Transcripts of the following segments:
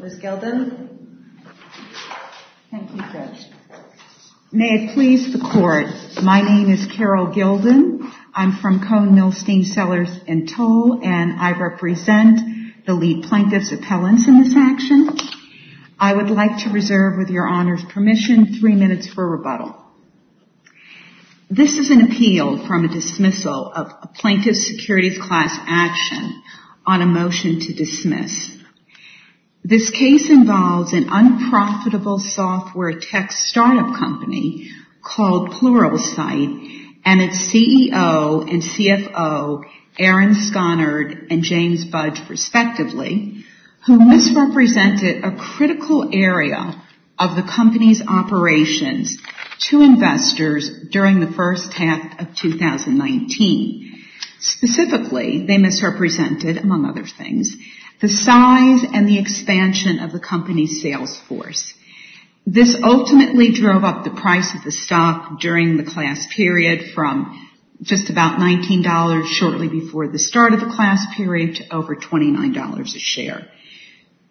Ms. Gilden? Thank you, Judge. May it please the Court, my name is Carol Gilden. I'm from Cone Mill Steam Cellars in Toll, and I represent the lead plaintiff's appellants in this action. I would like to reserve, with your Honor's permission, three minutes for rebuttal. This is an appeal from a dismissal of a plaintiff's securities class action on a motion to dismiss. This case involves an unprofitable software tech startup company called Pluralsight and its CEO and CFO, Aaron Sconard and James Budge, respectively, who misrepresented a critical area of the company's operations to investors during the first half of 2019. Specifically, they misrepresented, among other things, the size and the expansion of the company's sales force. This ultimately drove up the price of the stock during the class period from just about $19 shortly before the start of the class period to over $29 a share.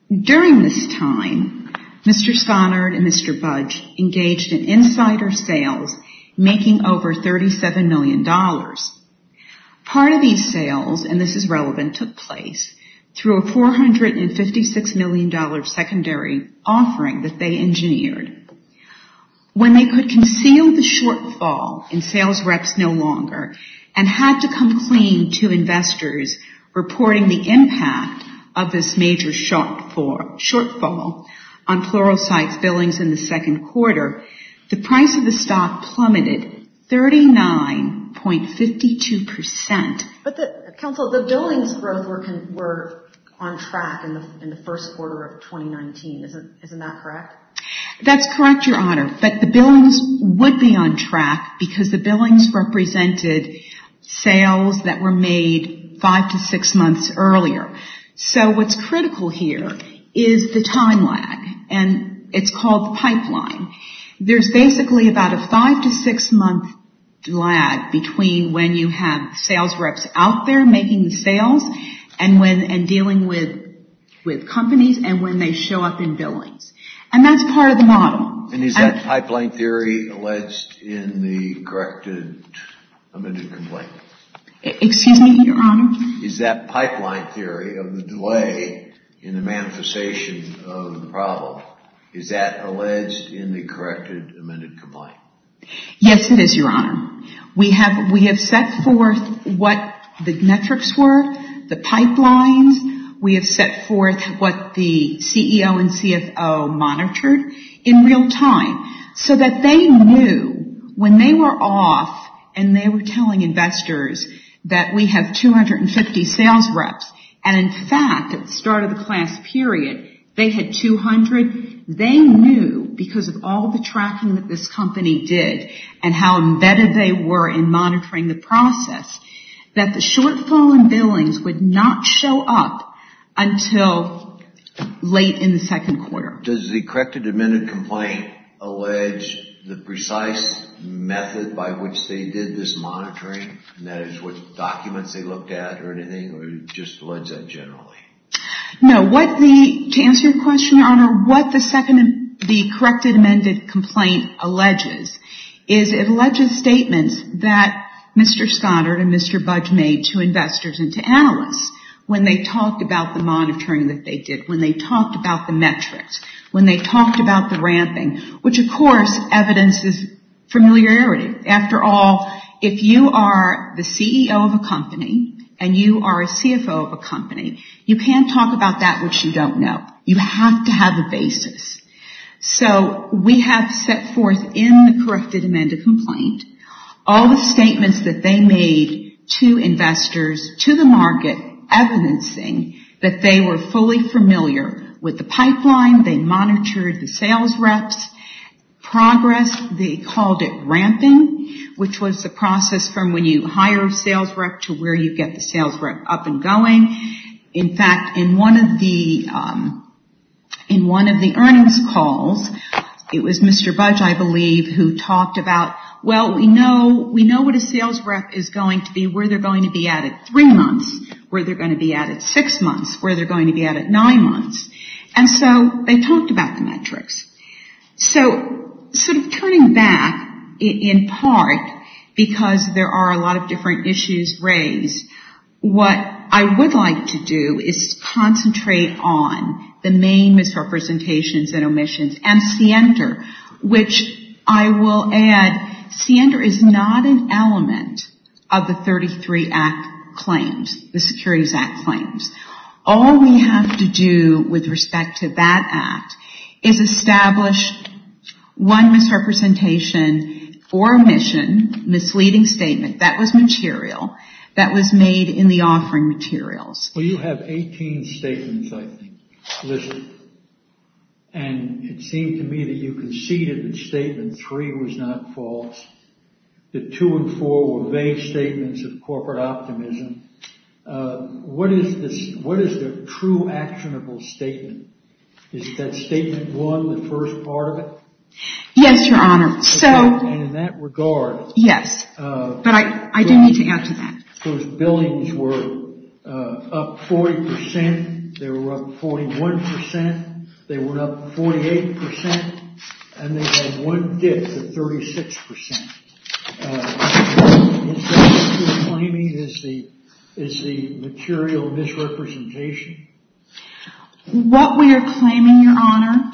During this time, Mr. Sconard and Mr. Budge engaged in insider sales, making over $37 million. Part of these sales, and this is relevant, took place through a $456 million secondary offering that they engineered. When they could conceal the shortfall in sales reps no longer and had to come clean to investors reporting the impact of this major shortfall on Pluralsight's billings in the second quarter, the price of the stock plummeted 39.52%. Counsel, the billings growth were on track in the first quarter of 2019. Isn't that correct? That's correct, Your Honor, but the billings would be on track because the billings represented sales that were made five to six months earlier. What's critical here is the time lag, and it's called the pipeline. There's basically about a five to six month lag between when you have sales reps out there making the sales and dealing with companies and when they show up in billings, and that's part of the model. And is that pipeline theory alleged in the corrected amended complaint? Excuse me, Your Honor? Is that pipeline theory of the delay in the manifestation of the problem, is that alleged in the corrected amended complaint? Yes, it is, Your Honor. We have set forth what the metrics were, the pipelines. We have set forth what the CEO and CFO monitored in real time so that they knew when they were off and they were telling investors that we have 250 sales reps, and in fact, at the start of the class period, they had 200. They knew because of all the tracking that this company did and how embedded they were in monitoring the process that the shortfall in billings would not show up until late in the second quarter. Does the corrected amended complaint allege the precise method by which they did this monitoring, and that is with documents they looked at or anything, or do you just allege that generally? No. To answer your question, Your Honor, what the corrected amended complaint alleges is it alleges statements that Mr. Scottert and Mr. Budge made to investors and to analysts when they talked about the monitoring that they did, when they talked about the metrics, when they talked about the ramping, which of course evidences familiarity. After all, if you are the CEO of a company and you are a CFO of a company, you can't talk about that which you don't know. You have to have a basis. So we have set forth in the corrected amended complaint all the statements that they made to investors, to the market, evidencing that they were fully familiar with the pipeline, they monitored the sales reps, progress, they called it ramping, which was the process from when you hire a sales rep to where you get the sales rep up and going. In fact, in one of the earnings calls, it was Mr. Budge, I believe, who talked about, well, we know what a sales rep is going to be, where they're going to be at at three months, where they're going to be at at six months, where they're going to be at at nine months. And so they talked about the metrics. So sort of turning back, in part because there are a lot of different issues raised, what I would like to do is concentrate on the main misrepresentations and omissions and CNDR, which I will add, CNDR is not an element of the 33 Act claims, the Securities Act claims. All we have to do with respect to that Act is establish one misrepresentation or omission, misleading statement that was material, that was made in the offering materials. Well, you have 18 statements, I think, Lizzie, and it seemed to me that you conceded that statement three was not false, that two and four were vague statements of corporate optimism. What is the true actionable statement? Is that statement one, the first part of it? Yes, Your Honor. Okay, and in that regard, those billings were up 40%, they were up 41%, they were up 48%, and they had one dip to 36%. Is that what you're claiming, is the material misrepresentation? What we are claiming, Your Honor,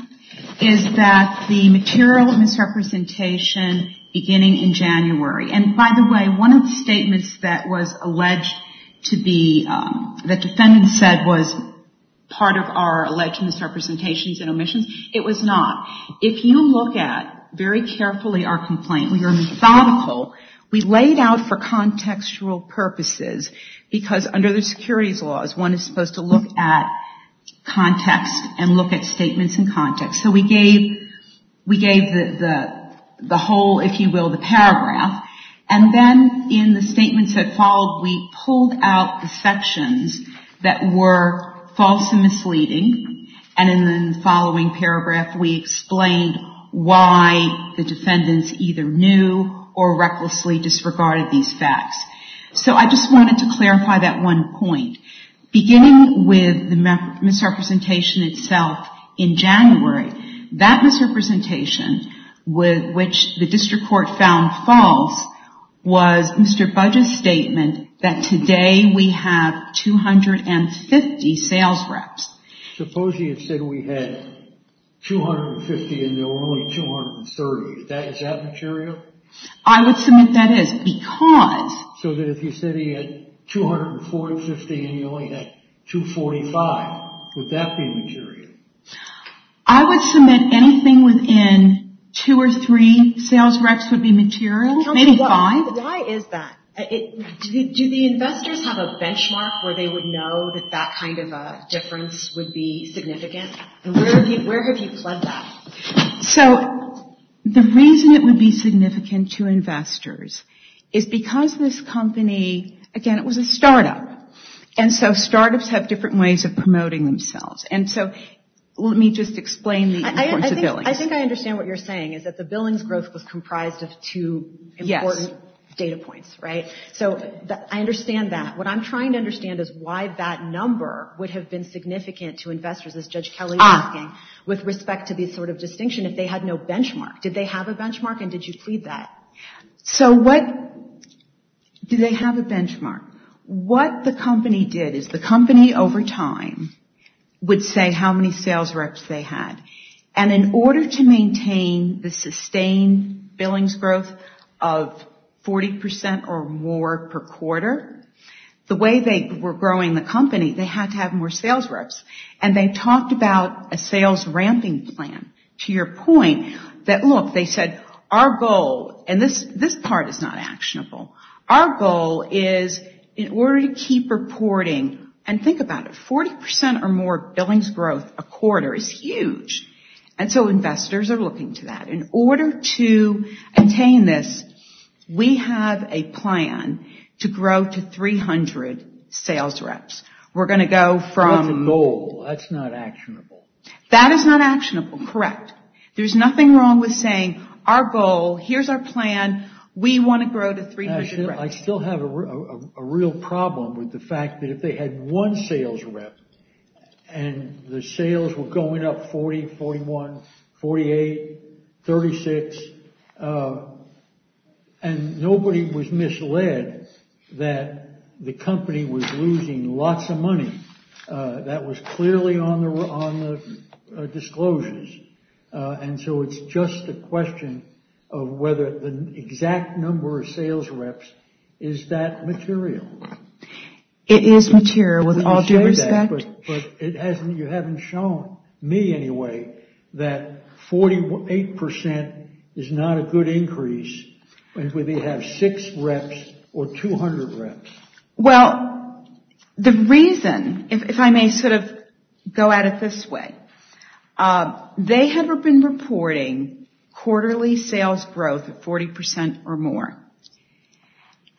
is that the material misrepresentation beginning in January, and by the way, one of the statements that was alleged to be, that defendants said was part of our alleged misrepresentations and omissions, it was not. If you look at very carefully our complaint, we are methodical, we laid out for contextual purposes because under the securities laws, one is supposed to look at context and look at statements in context, so we gave the whole, if you will, the paragraph, and then in the statements that followed, we pulled out the sections that were false and misleading, and in the following paragraph, we explained why the defendants either knew or recklessly disregarded these facts. So I just wanted to clarify that one point. Beginning with the misrepresentation itself in January, that misrepresentation, which the district court found false, was Mr. Budge's statement that today we have 250 sales reps. Suppose he had said we had 250 and there were only 230, is that material? I would submit that is, because... So that if you said he had 250 and you only had 245, would that be material? I would submit anything within two or three sales reps would be material, maybe five. Why is that? Do the investors have a benchmark where they would know that that kind of a difference would be significant, and where have you plugged that? So the reason it would be significant to investors is because this company, again, it was a startup, and so startups have different ways of promoting themselves, and so let me just explain the importance of billings. I think I understand what you're saying, is that the billings growth was comprised of two important data points, right? So I understand that. What I'm trying to understand is why that number would have been significant to investors, as Judge Kelly was asking, with respect to this sort of distinction, if they had no benchmark. Did they have a benchmark and did you plead that? So what... Do they have a benchmark? What the company did is the company over time would say how many sales reps they had, and in order to maintain the sustained billings growth of 40% or more per quarter, the way they were growing the company, they had to have more accounting plan, to your point, that look, they said our goal, and this part is not actionable, our goal is in order to keep reporting, and think about it, 40% or more billings growth a quarter is huge, and so investors are looking to that. In order to attain this, we have a plan to grow to 300 sales reps. We're going to go from... That's a goal. That's not actionable. That is not actionable, correct. There's nothing wrong with saying our goal, here's our plan, we want to grow to 300 reps. I still have a real problem with the fact that if they had one sales rep, and the sales were going up 40, 41, 48, 36, and nobody was misled that the company was losing lots of disclosures, and so it's just a question of whether the exact number of sales reps, is that material? It is material, with all due respect. But you haven't shown me, anyway, that 48% is not a good increase, and whether you have six reps, or 200 reps. Well, the reason, if I may sort of go at it this way, they had been reporting quarterly sales growth of 40% or more,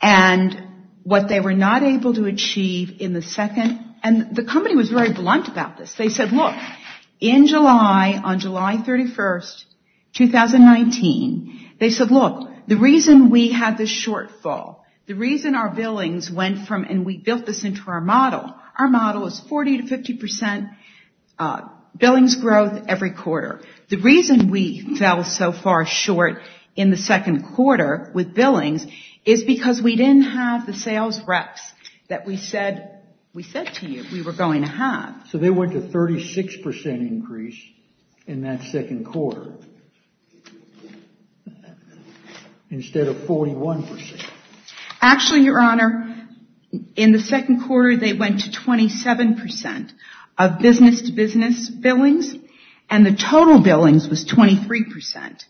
and what they were not able to achieve in the second, and the company was very blunt about this. They said, look, in July, on July 31st, 2019, they went from, and we built this into our model, our model is 40 to 50% billings growth every quarter. The reason we fell so far short in the second quarter, with billings, is because we didn't have the sales reps that we said to you we were going to have. So they went to 36% increase in that second quarter, instead of 41%. Actually Your Honor, in the second quarter, they went to 27% of business to business billings, and the total billings was 23%.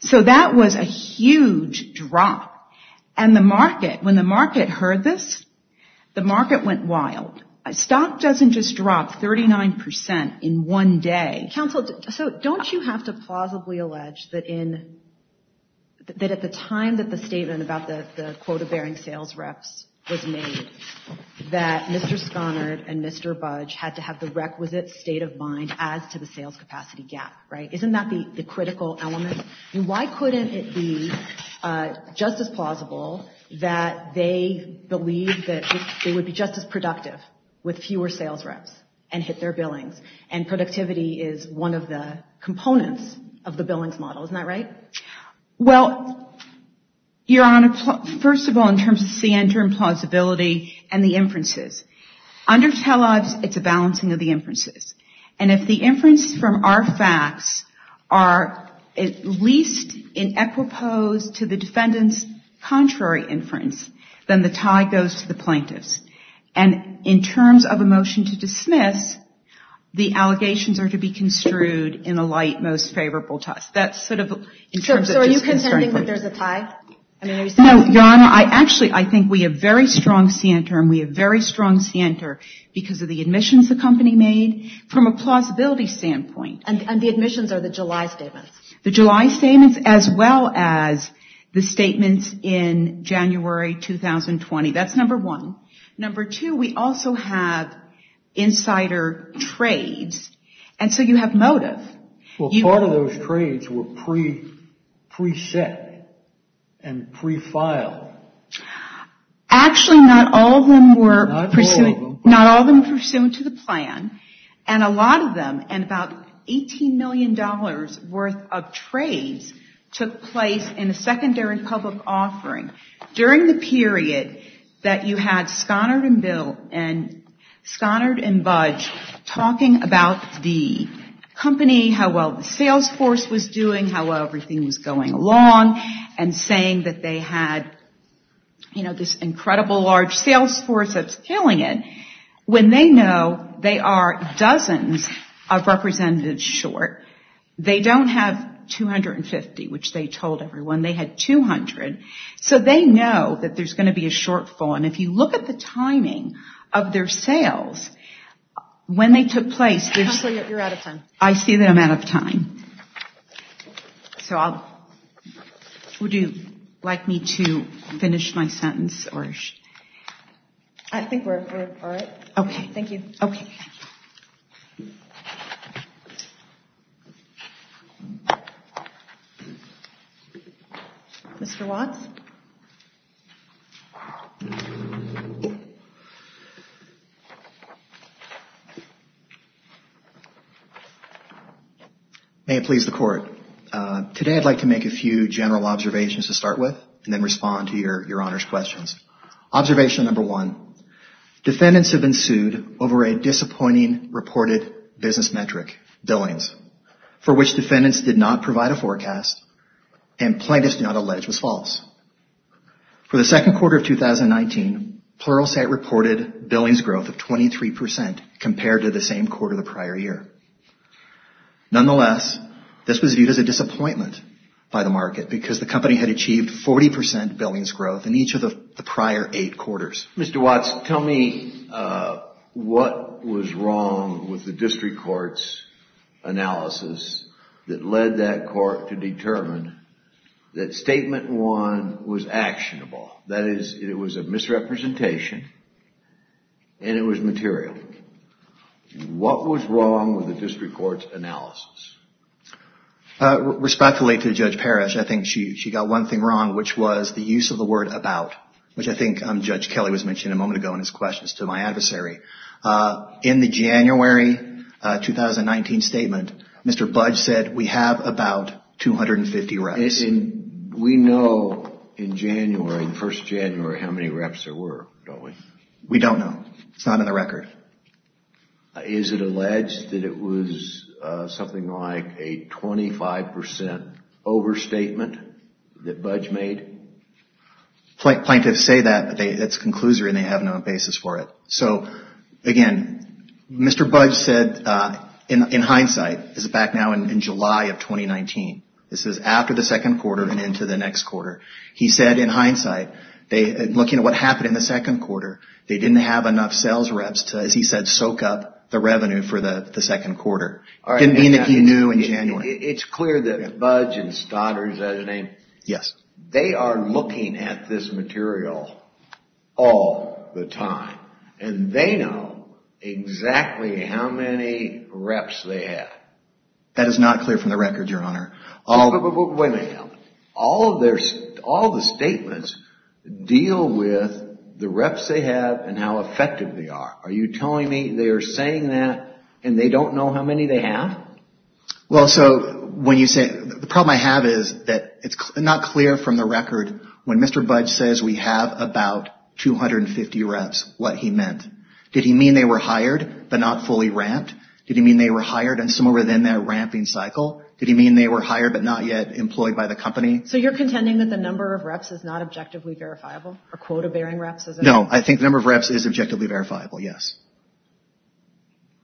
So that was a huge drop, and the market, when the market heard this, the market went wild. Stock doesn't just drop 39% in one day. Counsel, so don't you have to plausibly allege that in, that at the time that the statement about the quota bearing sales reps was made, that Mr. Sconard and Mr. Budge had to have the requisite state of mind as to the sales capacity gap, right? Isn't that the critical element? Why couldn't it be just as plausible that they believed that they would be just as productive with fewer sales reps, and hit their billings, and productivity is one of the components of the billings model, isn't that right? Well, Your Honor, first of all, in terms of center and plausibility, and the inferences. Under telebs, it's a balancing of the inferences. And if the inference from our facts are at least in equipose to the defendant's contrary inference, then the tie goes to the plaintiffs. And in terms of a motion to dismiss, the allegations are to be construed in a light, most favorable to us. That's sort of in terms of disconcerting. So are you contending that there's a tie? No, Your Honor, I actually, I think we have very strong center, and we have very strong center because of the admissions the company made, from a plausibility standpoint. And the admissions are the July statements. The July statements, as well as the statements in January 2020, that's number one. Number two, we also have insider trades, and so you have motive. Well, part of those trades were pre-set and pre-filed. Actually not all of them were pursued to the plan, and a lot of them, and about $18 million worth of trades, took place in a secondary public offering. During the period that you had Sconard and Budge talking about the company making the money, how well the sales force was doing, how well everything was going along, and saying that they had this incredible large sales force that's killing it, when they know they are dozens of representatives short, they don't have 250, which they told everyone. They had 200. So they know that there's going to be a shortfall, and if you look at the timing of their sales, when they took place, there's... Counselor, you're out of time. I see that I'm out of time, so would you like me to finish my sentence? I think we're all right. Okay. Thank you. Okay. Mr. Watts? May it please the Court. Today, I'd like to make a few general observations to start with, and then respond to your Honor's questions. Observation number one. Defendants have been sued over a disappointing reported business metric, billings, for which defendants did not provide a forecast and plaintiffs did not allege was false. For the second quarter of 2019, Pluralsight reported billings growth of 23 percent compared to the same quarter the prior year. Nonetheless, this was viewed as a disappointment by the market because the company had achieved 40 percent billings growth in each of the prior eight quarters. Mr. Watts, tell me what was wrong with the district court's analysis that led that court to determine that statement one was actionable. That is, it was a misrepresentation and it was material. What was wrong with the district court's analysis? Respectfully to Judge Parrish, I think she got one thing wrong, which was the use of the word about, which I think Judge Kelly was mentioning a moment ago in his questions to my adversary. In the January 2019 statement, Mr. Budge said we have about 250 records. We know in January, the first of January, how many reps there were, don't we? We don't know. It's not in the record. Is it alleged that it was something like a 25 percent overstatement that Budge made? Plaintiffs say that, but it's a conclusory and they have no basis for it. So, again, Mr. Budge said, in hindsight, this is back now in July of 2019, this is after the second quarter and into the next quarter. He said, in hindsight, looking at what happened in the second quarter, they didn't have enough sales reps to, as he said, soak up the revenue for the second quarter. It didn't mean that he knew in January. It's clear that Budge and Stoddard, is that a name? Yes. They are looking at this material all the time and they know exactly how many reps they have. That is not clear from the record, Your Honor. Wait a minute. All the statements deal with the reps they have and how effective they are. Are you telling me they are saying that and they don't know how many they have? Well, so, the problem I have is that it's not clear from the record when Mr. Budge says we have about 250 reps, what he meant. Did he mean they were hired but not fully ramped? Did he mean they were hired and somewhere within their ramping cycle? Did he mean they were hired but not yet employed by the company? So, you're contending that the number of reps is not objectively verifiable, or quota-bearing reps? No. I think the number of reps is objectively verifiable, yes.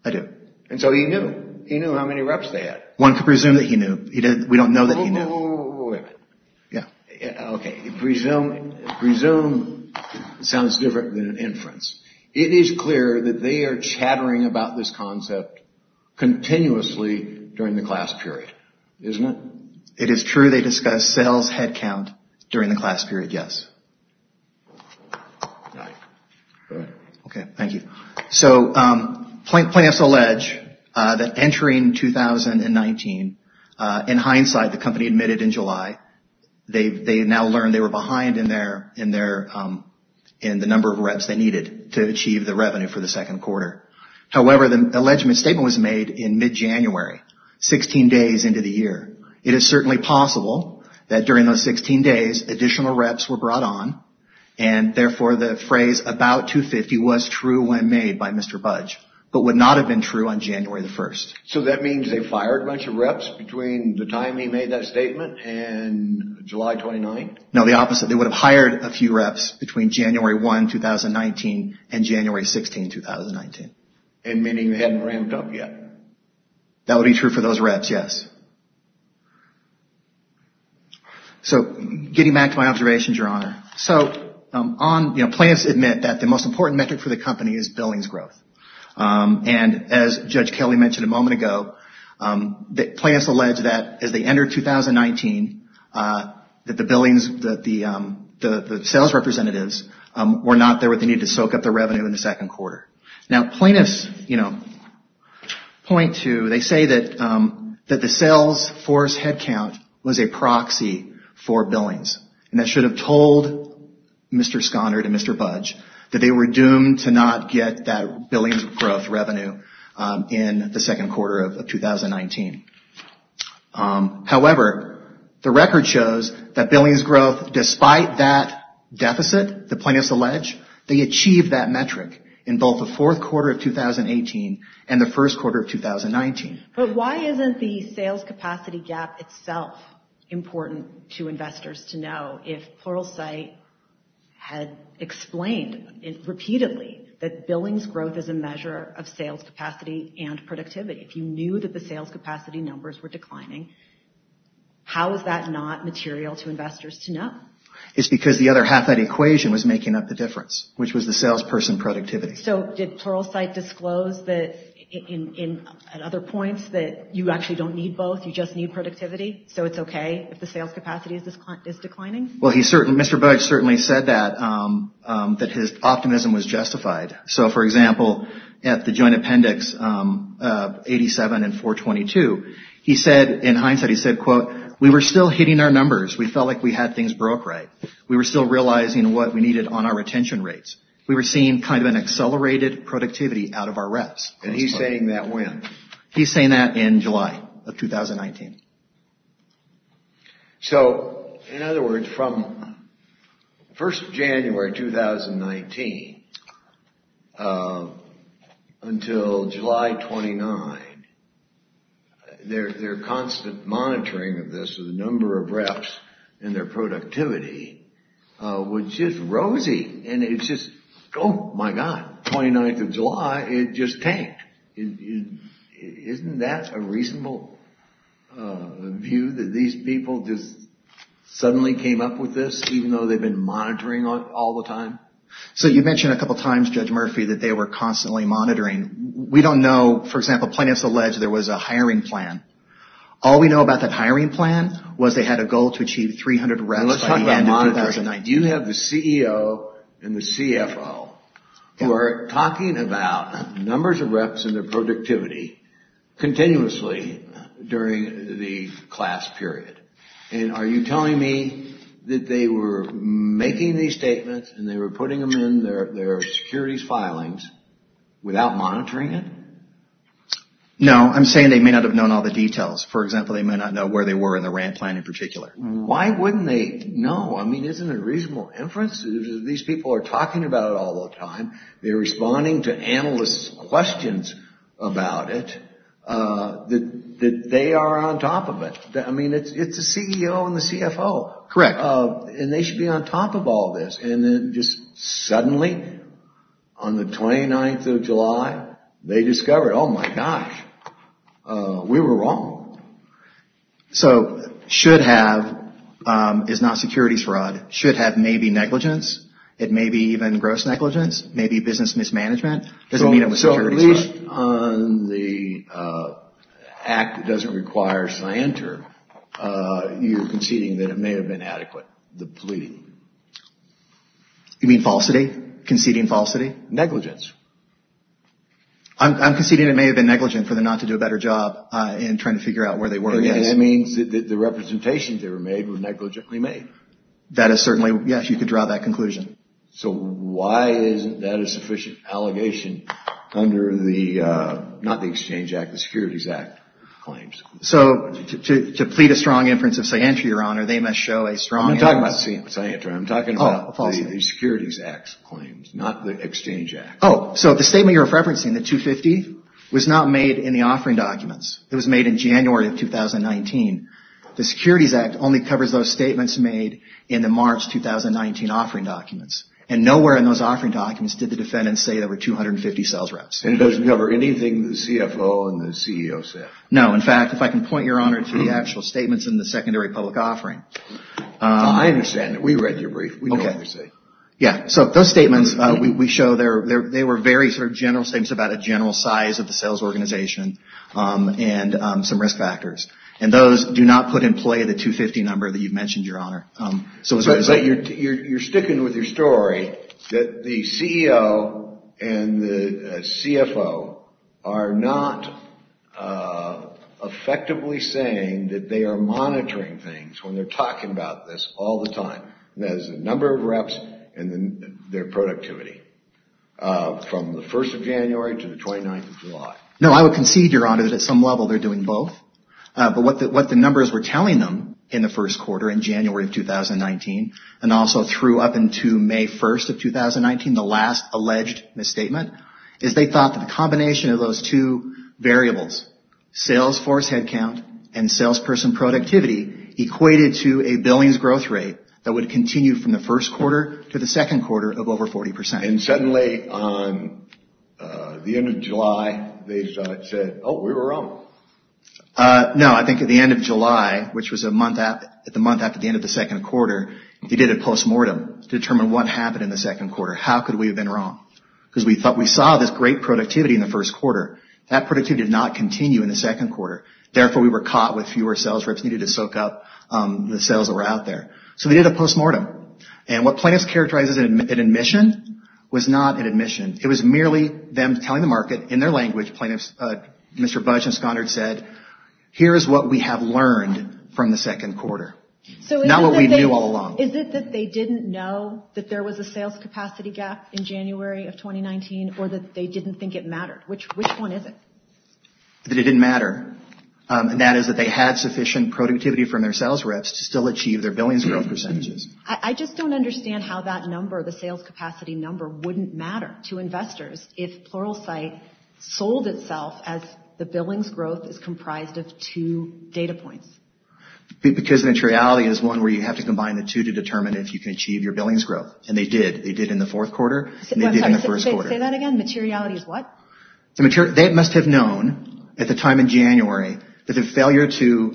I do. And so he knew. He knew how many reps they had. One could presume that he knew. We don't know that he knew. Wait a minute. Yeah. Okay. Presume sounds different than inference. It is clear that they are chattering about this concept continuously during the class period, isn't it? It is true they discuss sales headcount during the class period, yes. All right. Go ahead. Okay. Thank you. So, plaintiffs allege that entering 2019, in hindsight, the company admitted in July, they now learned they were behind in the number of reps they needed to achieve the revenue for the second quarter. However, the allegement statement was made in mid-January, 16 days into the year. It is certainly possible that during those 16 days, additional reps were brought on, and therefore the phrase, about 250, was true when made by Mr. Budge, but would not have been true on January the 1st. So that means they fired a bunch of reps between the time he made that statement and July 29th? No, the opposite. They would have hired a few reps between January 1, 2019 and January 16, 2019. And meaning they hadn't ramped up yet? That would be true for those reps, yes. So getting back to my observations, Your Honor. So on, you know, plaintiffs admit that the most important metric for the company is billings growth. And as Judge Kelley mentioned a moment ago, the plaintiffs allege that as they entered 2019, that the billings, that the sales representatives were not there with the need to soak up the revenue in the second quarter. Now, plaintiffs, you know, point to, they say that the sales force headcount was a proxy for billings, and that should have told Mr. Sconard and Mr. Budge that they were doomed to not get that billings growth revenue in the second quarter of 2019. However, the record shows that billings growth, despite that deficit, the plaintiffs allege, they achieved that metric in both the fourth quarter of 2018 and the first quarter of 2019. But why isn't the sales capacity gap itself important to investors to know if Pluralsight had explained repeatedly that billings growth is a measure of sales capacity and productivity? If you knew that the sales capacity numbers were declining, how is that not material to investors to know? It's because the other half that equation was making up the difference, which was the salesperson productivity. So did Pluralsight disclose that in other points that you actually don't need both, you just need productivity? So it's OK if the sales capacity is declining? Well, Mr. Budge certainly said that, that his optimism was justified. So, for example, at the joint appendix 87 and 422, he said, in hindsight, he said, quote, we were still hitting our numbers. We felt like we had things broke right. We were still realizing what we needed on our retention rates. We were seeing kind of an accelerated productivity out of our reps. And he's saying that when? He's saying that in July of 2019. So, in other words, from 1st of January 2019 until July 29, their constant monitoring of this is the number of reps and their productivity, which is rosy. And it's just, oh, my God, 29th of July, it just tanked. Isn't that a reasonable view that these people just suddenly came up with this, even though they've been monitoring all the time? So you mentioned a couple of times, Judge Murphy, that they were constantly monitoring. We don't know. For example, plaintiffs allege there was a hiring plan. All we know about that hiring plan was they had a goal to achieve 300 reps by the end of 2019. And you have the CEO and the CFO who are talking about numbers of reps and their productivity continuously during the class period. And are you telling me that they were making these statements and they were putting them in their securities filings without monitoring it? No, I'm saying they may not have known all the details. For example, they may not know where they were in the rant plan in particular. Why wouldn't they know? I mean, isn't it a reasonable inference? These people are talking about it all the time. They're responding to analysts' questions about it, that they are on top of it. I mean, it's the CEO and the CFO. Correct. And they should be on top of all this. And then just suddenly, on the 29th of July, they discovered, oh, my gosh, we were wrong. So should have is not securities fraud. Should have may be negligence. It may be even gross negligence. Maybe business mismanagement. So at least on the act that doesn't require cyanter, you're conceding that it may have been adequate, the pleading. You mean falsity? Conceding falsity? Negligence. I'm conceding it may have been negligent for them not to do a better job in trying to figure out where they were. And that means that the representations they were made were negligently made. That is certainly, yes, you could draw that conclusion. So why isn't that a sufficient allegation under the, not the Exchange Act, the Securities Act claims? So to plead a strong inference of cyanter, Your Honor, they must show a strong... I'm not talking about cyanter, I'm talking about the Securities Act claims, not the Exchange Act. Oh, so the statement you're referencing, the 250, was not made in the offering documents. It was made in January of 2019. The Securities Act only covers those statements made in the March 2019 offering documents. And nowhere in those offering documents did the defendants say there were 250 sales reps. And it doesn't cover anything that the CFO and the CEO said. No, in fact, if I can point, Your Honor, to the actual statements in the secondary public offering. I understand that. We read your brief. We know what you're saying. Yeah, so those statements we show, they were very sort of general statements about a general size of the sales organization and some risk factors. And those do not put in play the 250 number that you've mentioned, Your Honor. So you're sticking with your story that the CEO and the CFO are not effectively saying that they are monitoring things when they're talking about this all the time. There's a number of reps and their productivity from the 1st of January to the 29th of July. No, I would concede, Your Honor, that at some level they're doing both. But what the numbers were telling them in the first quarter, in January of 2019, and also through up into May 1st of 2019, the last alleged misstatement, is they thought that the combination of those two variables, sales force headcount and salesperson productivity, equated to a billings growth rate that would continue from the 1st quarter to the 2nd quarter of over 40%. And suddenly, on the end of July, they said, oh, we were wrong. No, I think at the end of July, which was the month after the end of the 2nd quarter, they did a postmortem to determine what happened in the 2nd quarter. How could we have been wrong? Because we thought we saw this great productivity in the 1st quarter. That productivity did not continue in the 2nd quarter. Therefore, we were caught with fewer sales reps needed to soak up the sales that were out there. So they did a postmortem. And what plaintiffs characterized as an admission was not an admission. It was merely them telling the market in their language, Mr. Budge and Sconard said, here is what we have learned from the 2nd quarter, not what we knew all along. Is it that they didn't know that there was a sales capacity gap in January of 2019, or that they didn't think it mattered? Which one is it? That it didn't matter. And that is that they had sufficient productivity from their sales reps to still achieve their billings growth percentages. I just don't understand how that number, the sales capacity number, wouldn't matter to investors if Pluralsight sold itself as the billings growth is comprised of two data points. Because the materiality is one where you have to combine the two to determine if you can achieve your billings growth. And they did. They did in the 4th quarter. And they did in the 1st quarter. Say that again? Materiality is what? They must have known at the time in January that the failure to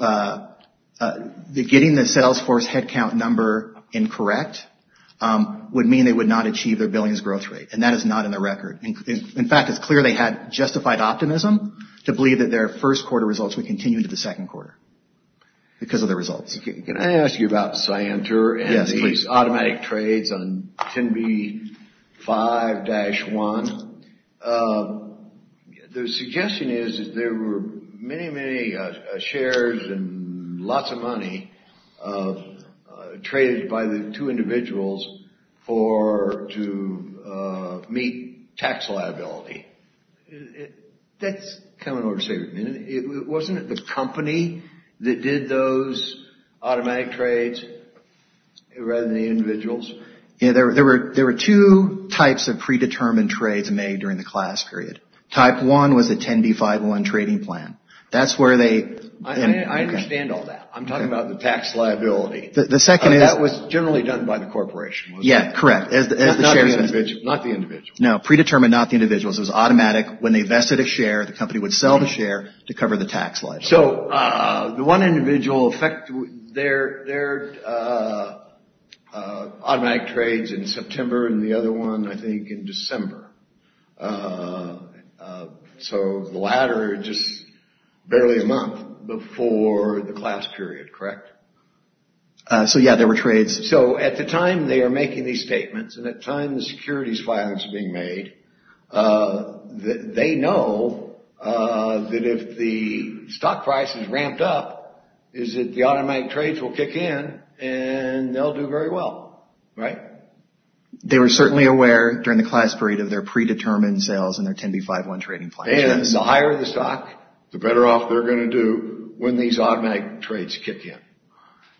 getting the sales force headcount number incorrect would mean they would not achieve their billings growth rate. And that is not in the record. In fact, it's clear they had justified optimism to believe that their 1st quarter results would continue into the 2nd quarter because of the results. Can I ask you about Cyanter and these automatic trades on 10B5-1? The suggestion is that there were many, many shares and lots of money traded by the two individuals to meet tax liability. That's kind of an overstatement. Wasn't it the company that did those automatic trades rather than the individuals? There were there were there were two types of predetermined trades made during the class period. Type 1 was a 10B5-1 trading plan. That's where they... I understand all that. I'm talking about the tax liability. The second is... That was generally done by the corporation. Yeah, correct. Not the individuals. No, predetermined, not the individuals. It was automatic. When they vested a share, the company would sell the share to cover the tax liability. So the one individual... There were automatic trades in September and the other one, I think, in December. So the latter just barely a month before the class period, correct? So, yeah, there were trades. So at the time they are making these statements and at the time the securities filing is being made, they know that if the stock price is ramped up, is that the automatic trades will kick in and they'll do very well, right? They were certainly aware during the class period of their predetermined sales and their 10B5-1 trading plan. And the higher the stock, the better off they're going to do when these automatic trades kick in.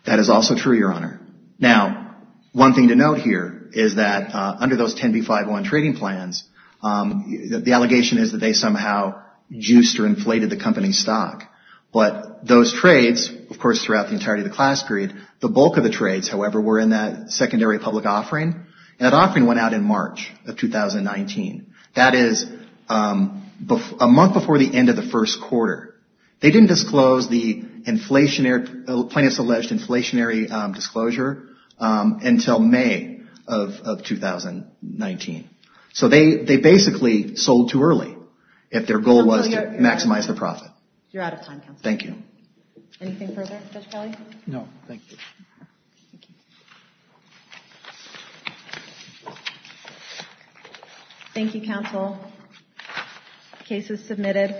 That is also true, Your Honor. Now, one thing to note here is that under those 10B5-1 trading plans, the allegation is that they somehow juiced or inflated the company's stock. But those trades, of course, throughout the entirety of the class period, the bulk of the trades, however, were in that secondary public offering. And that offering went out in March of 2019. That is a month before the end of the first quarter. They didn't disclose the inflationary, plaintiff's alleged inflationary disclosure until May of 2019. So they basically sold too early if their goal was to maximize the profit. You're out of time, Counselor. Thank you. Anything further, Judge Kelly? No, thank you. Thank you, Counsel. Case is submitted. Thank you.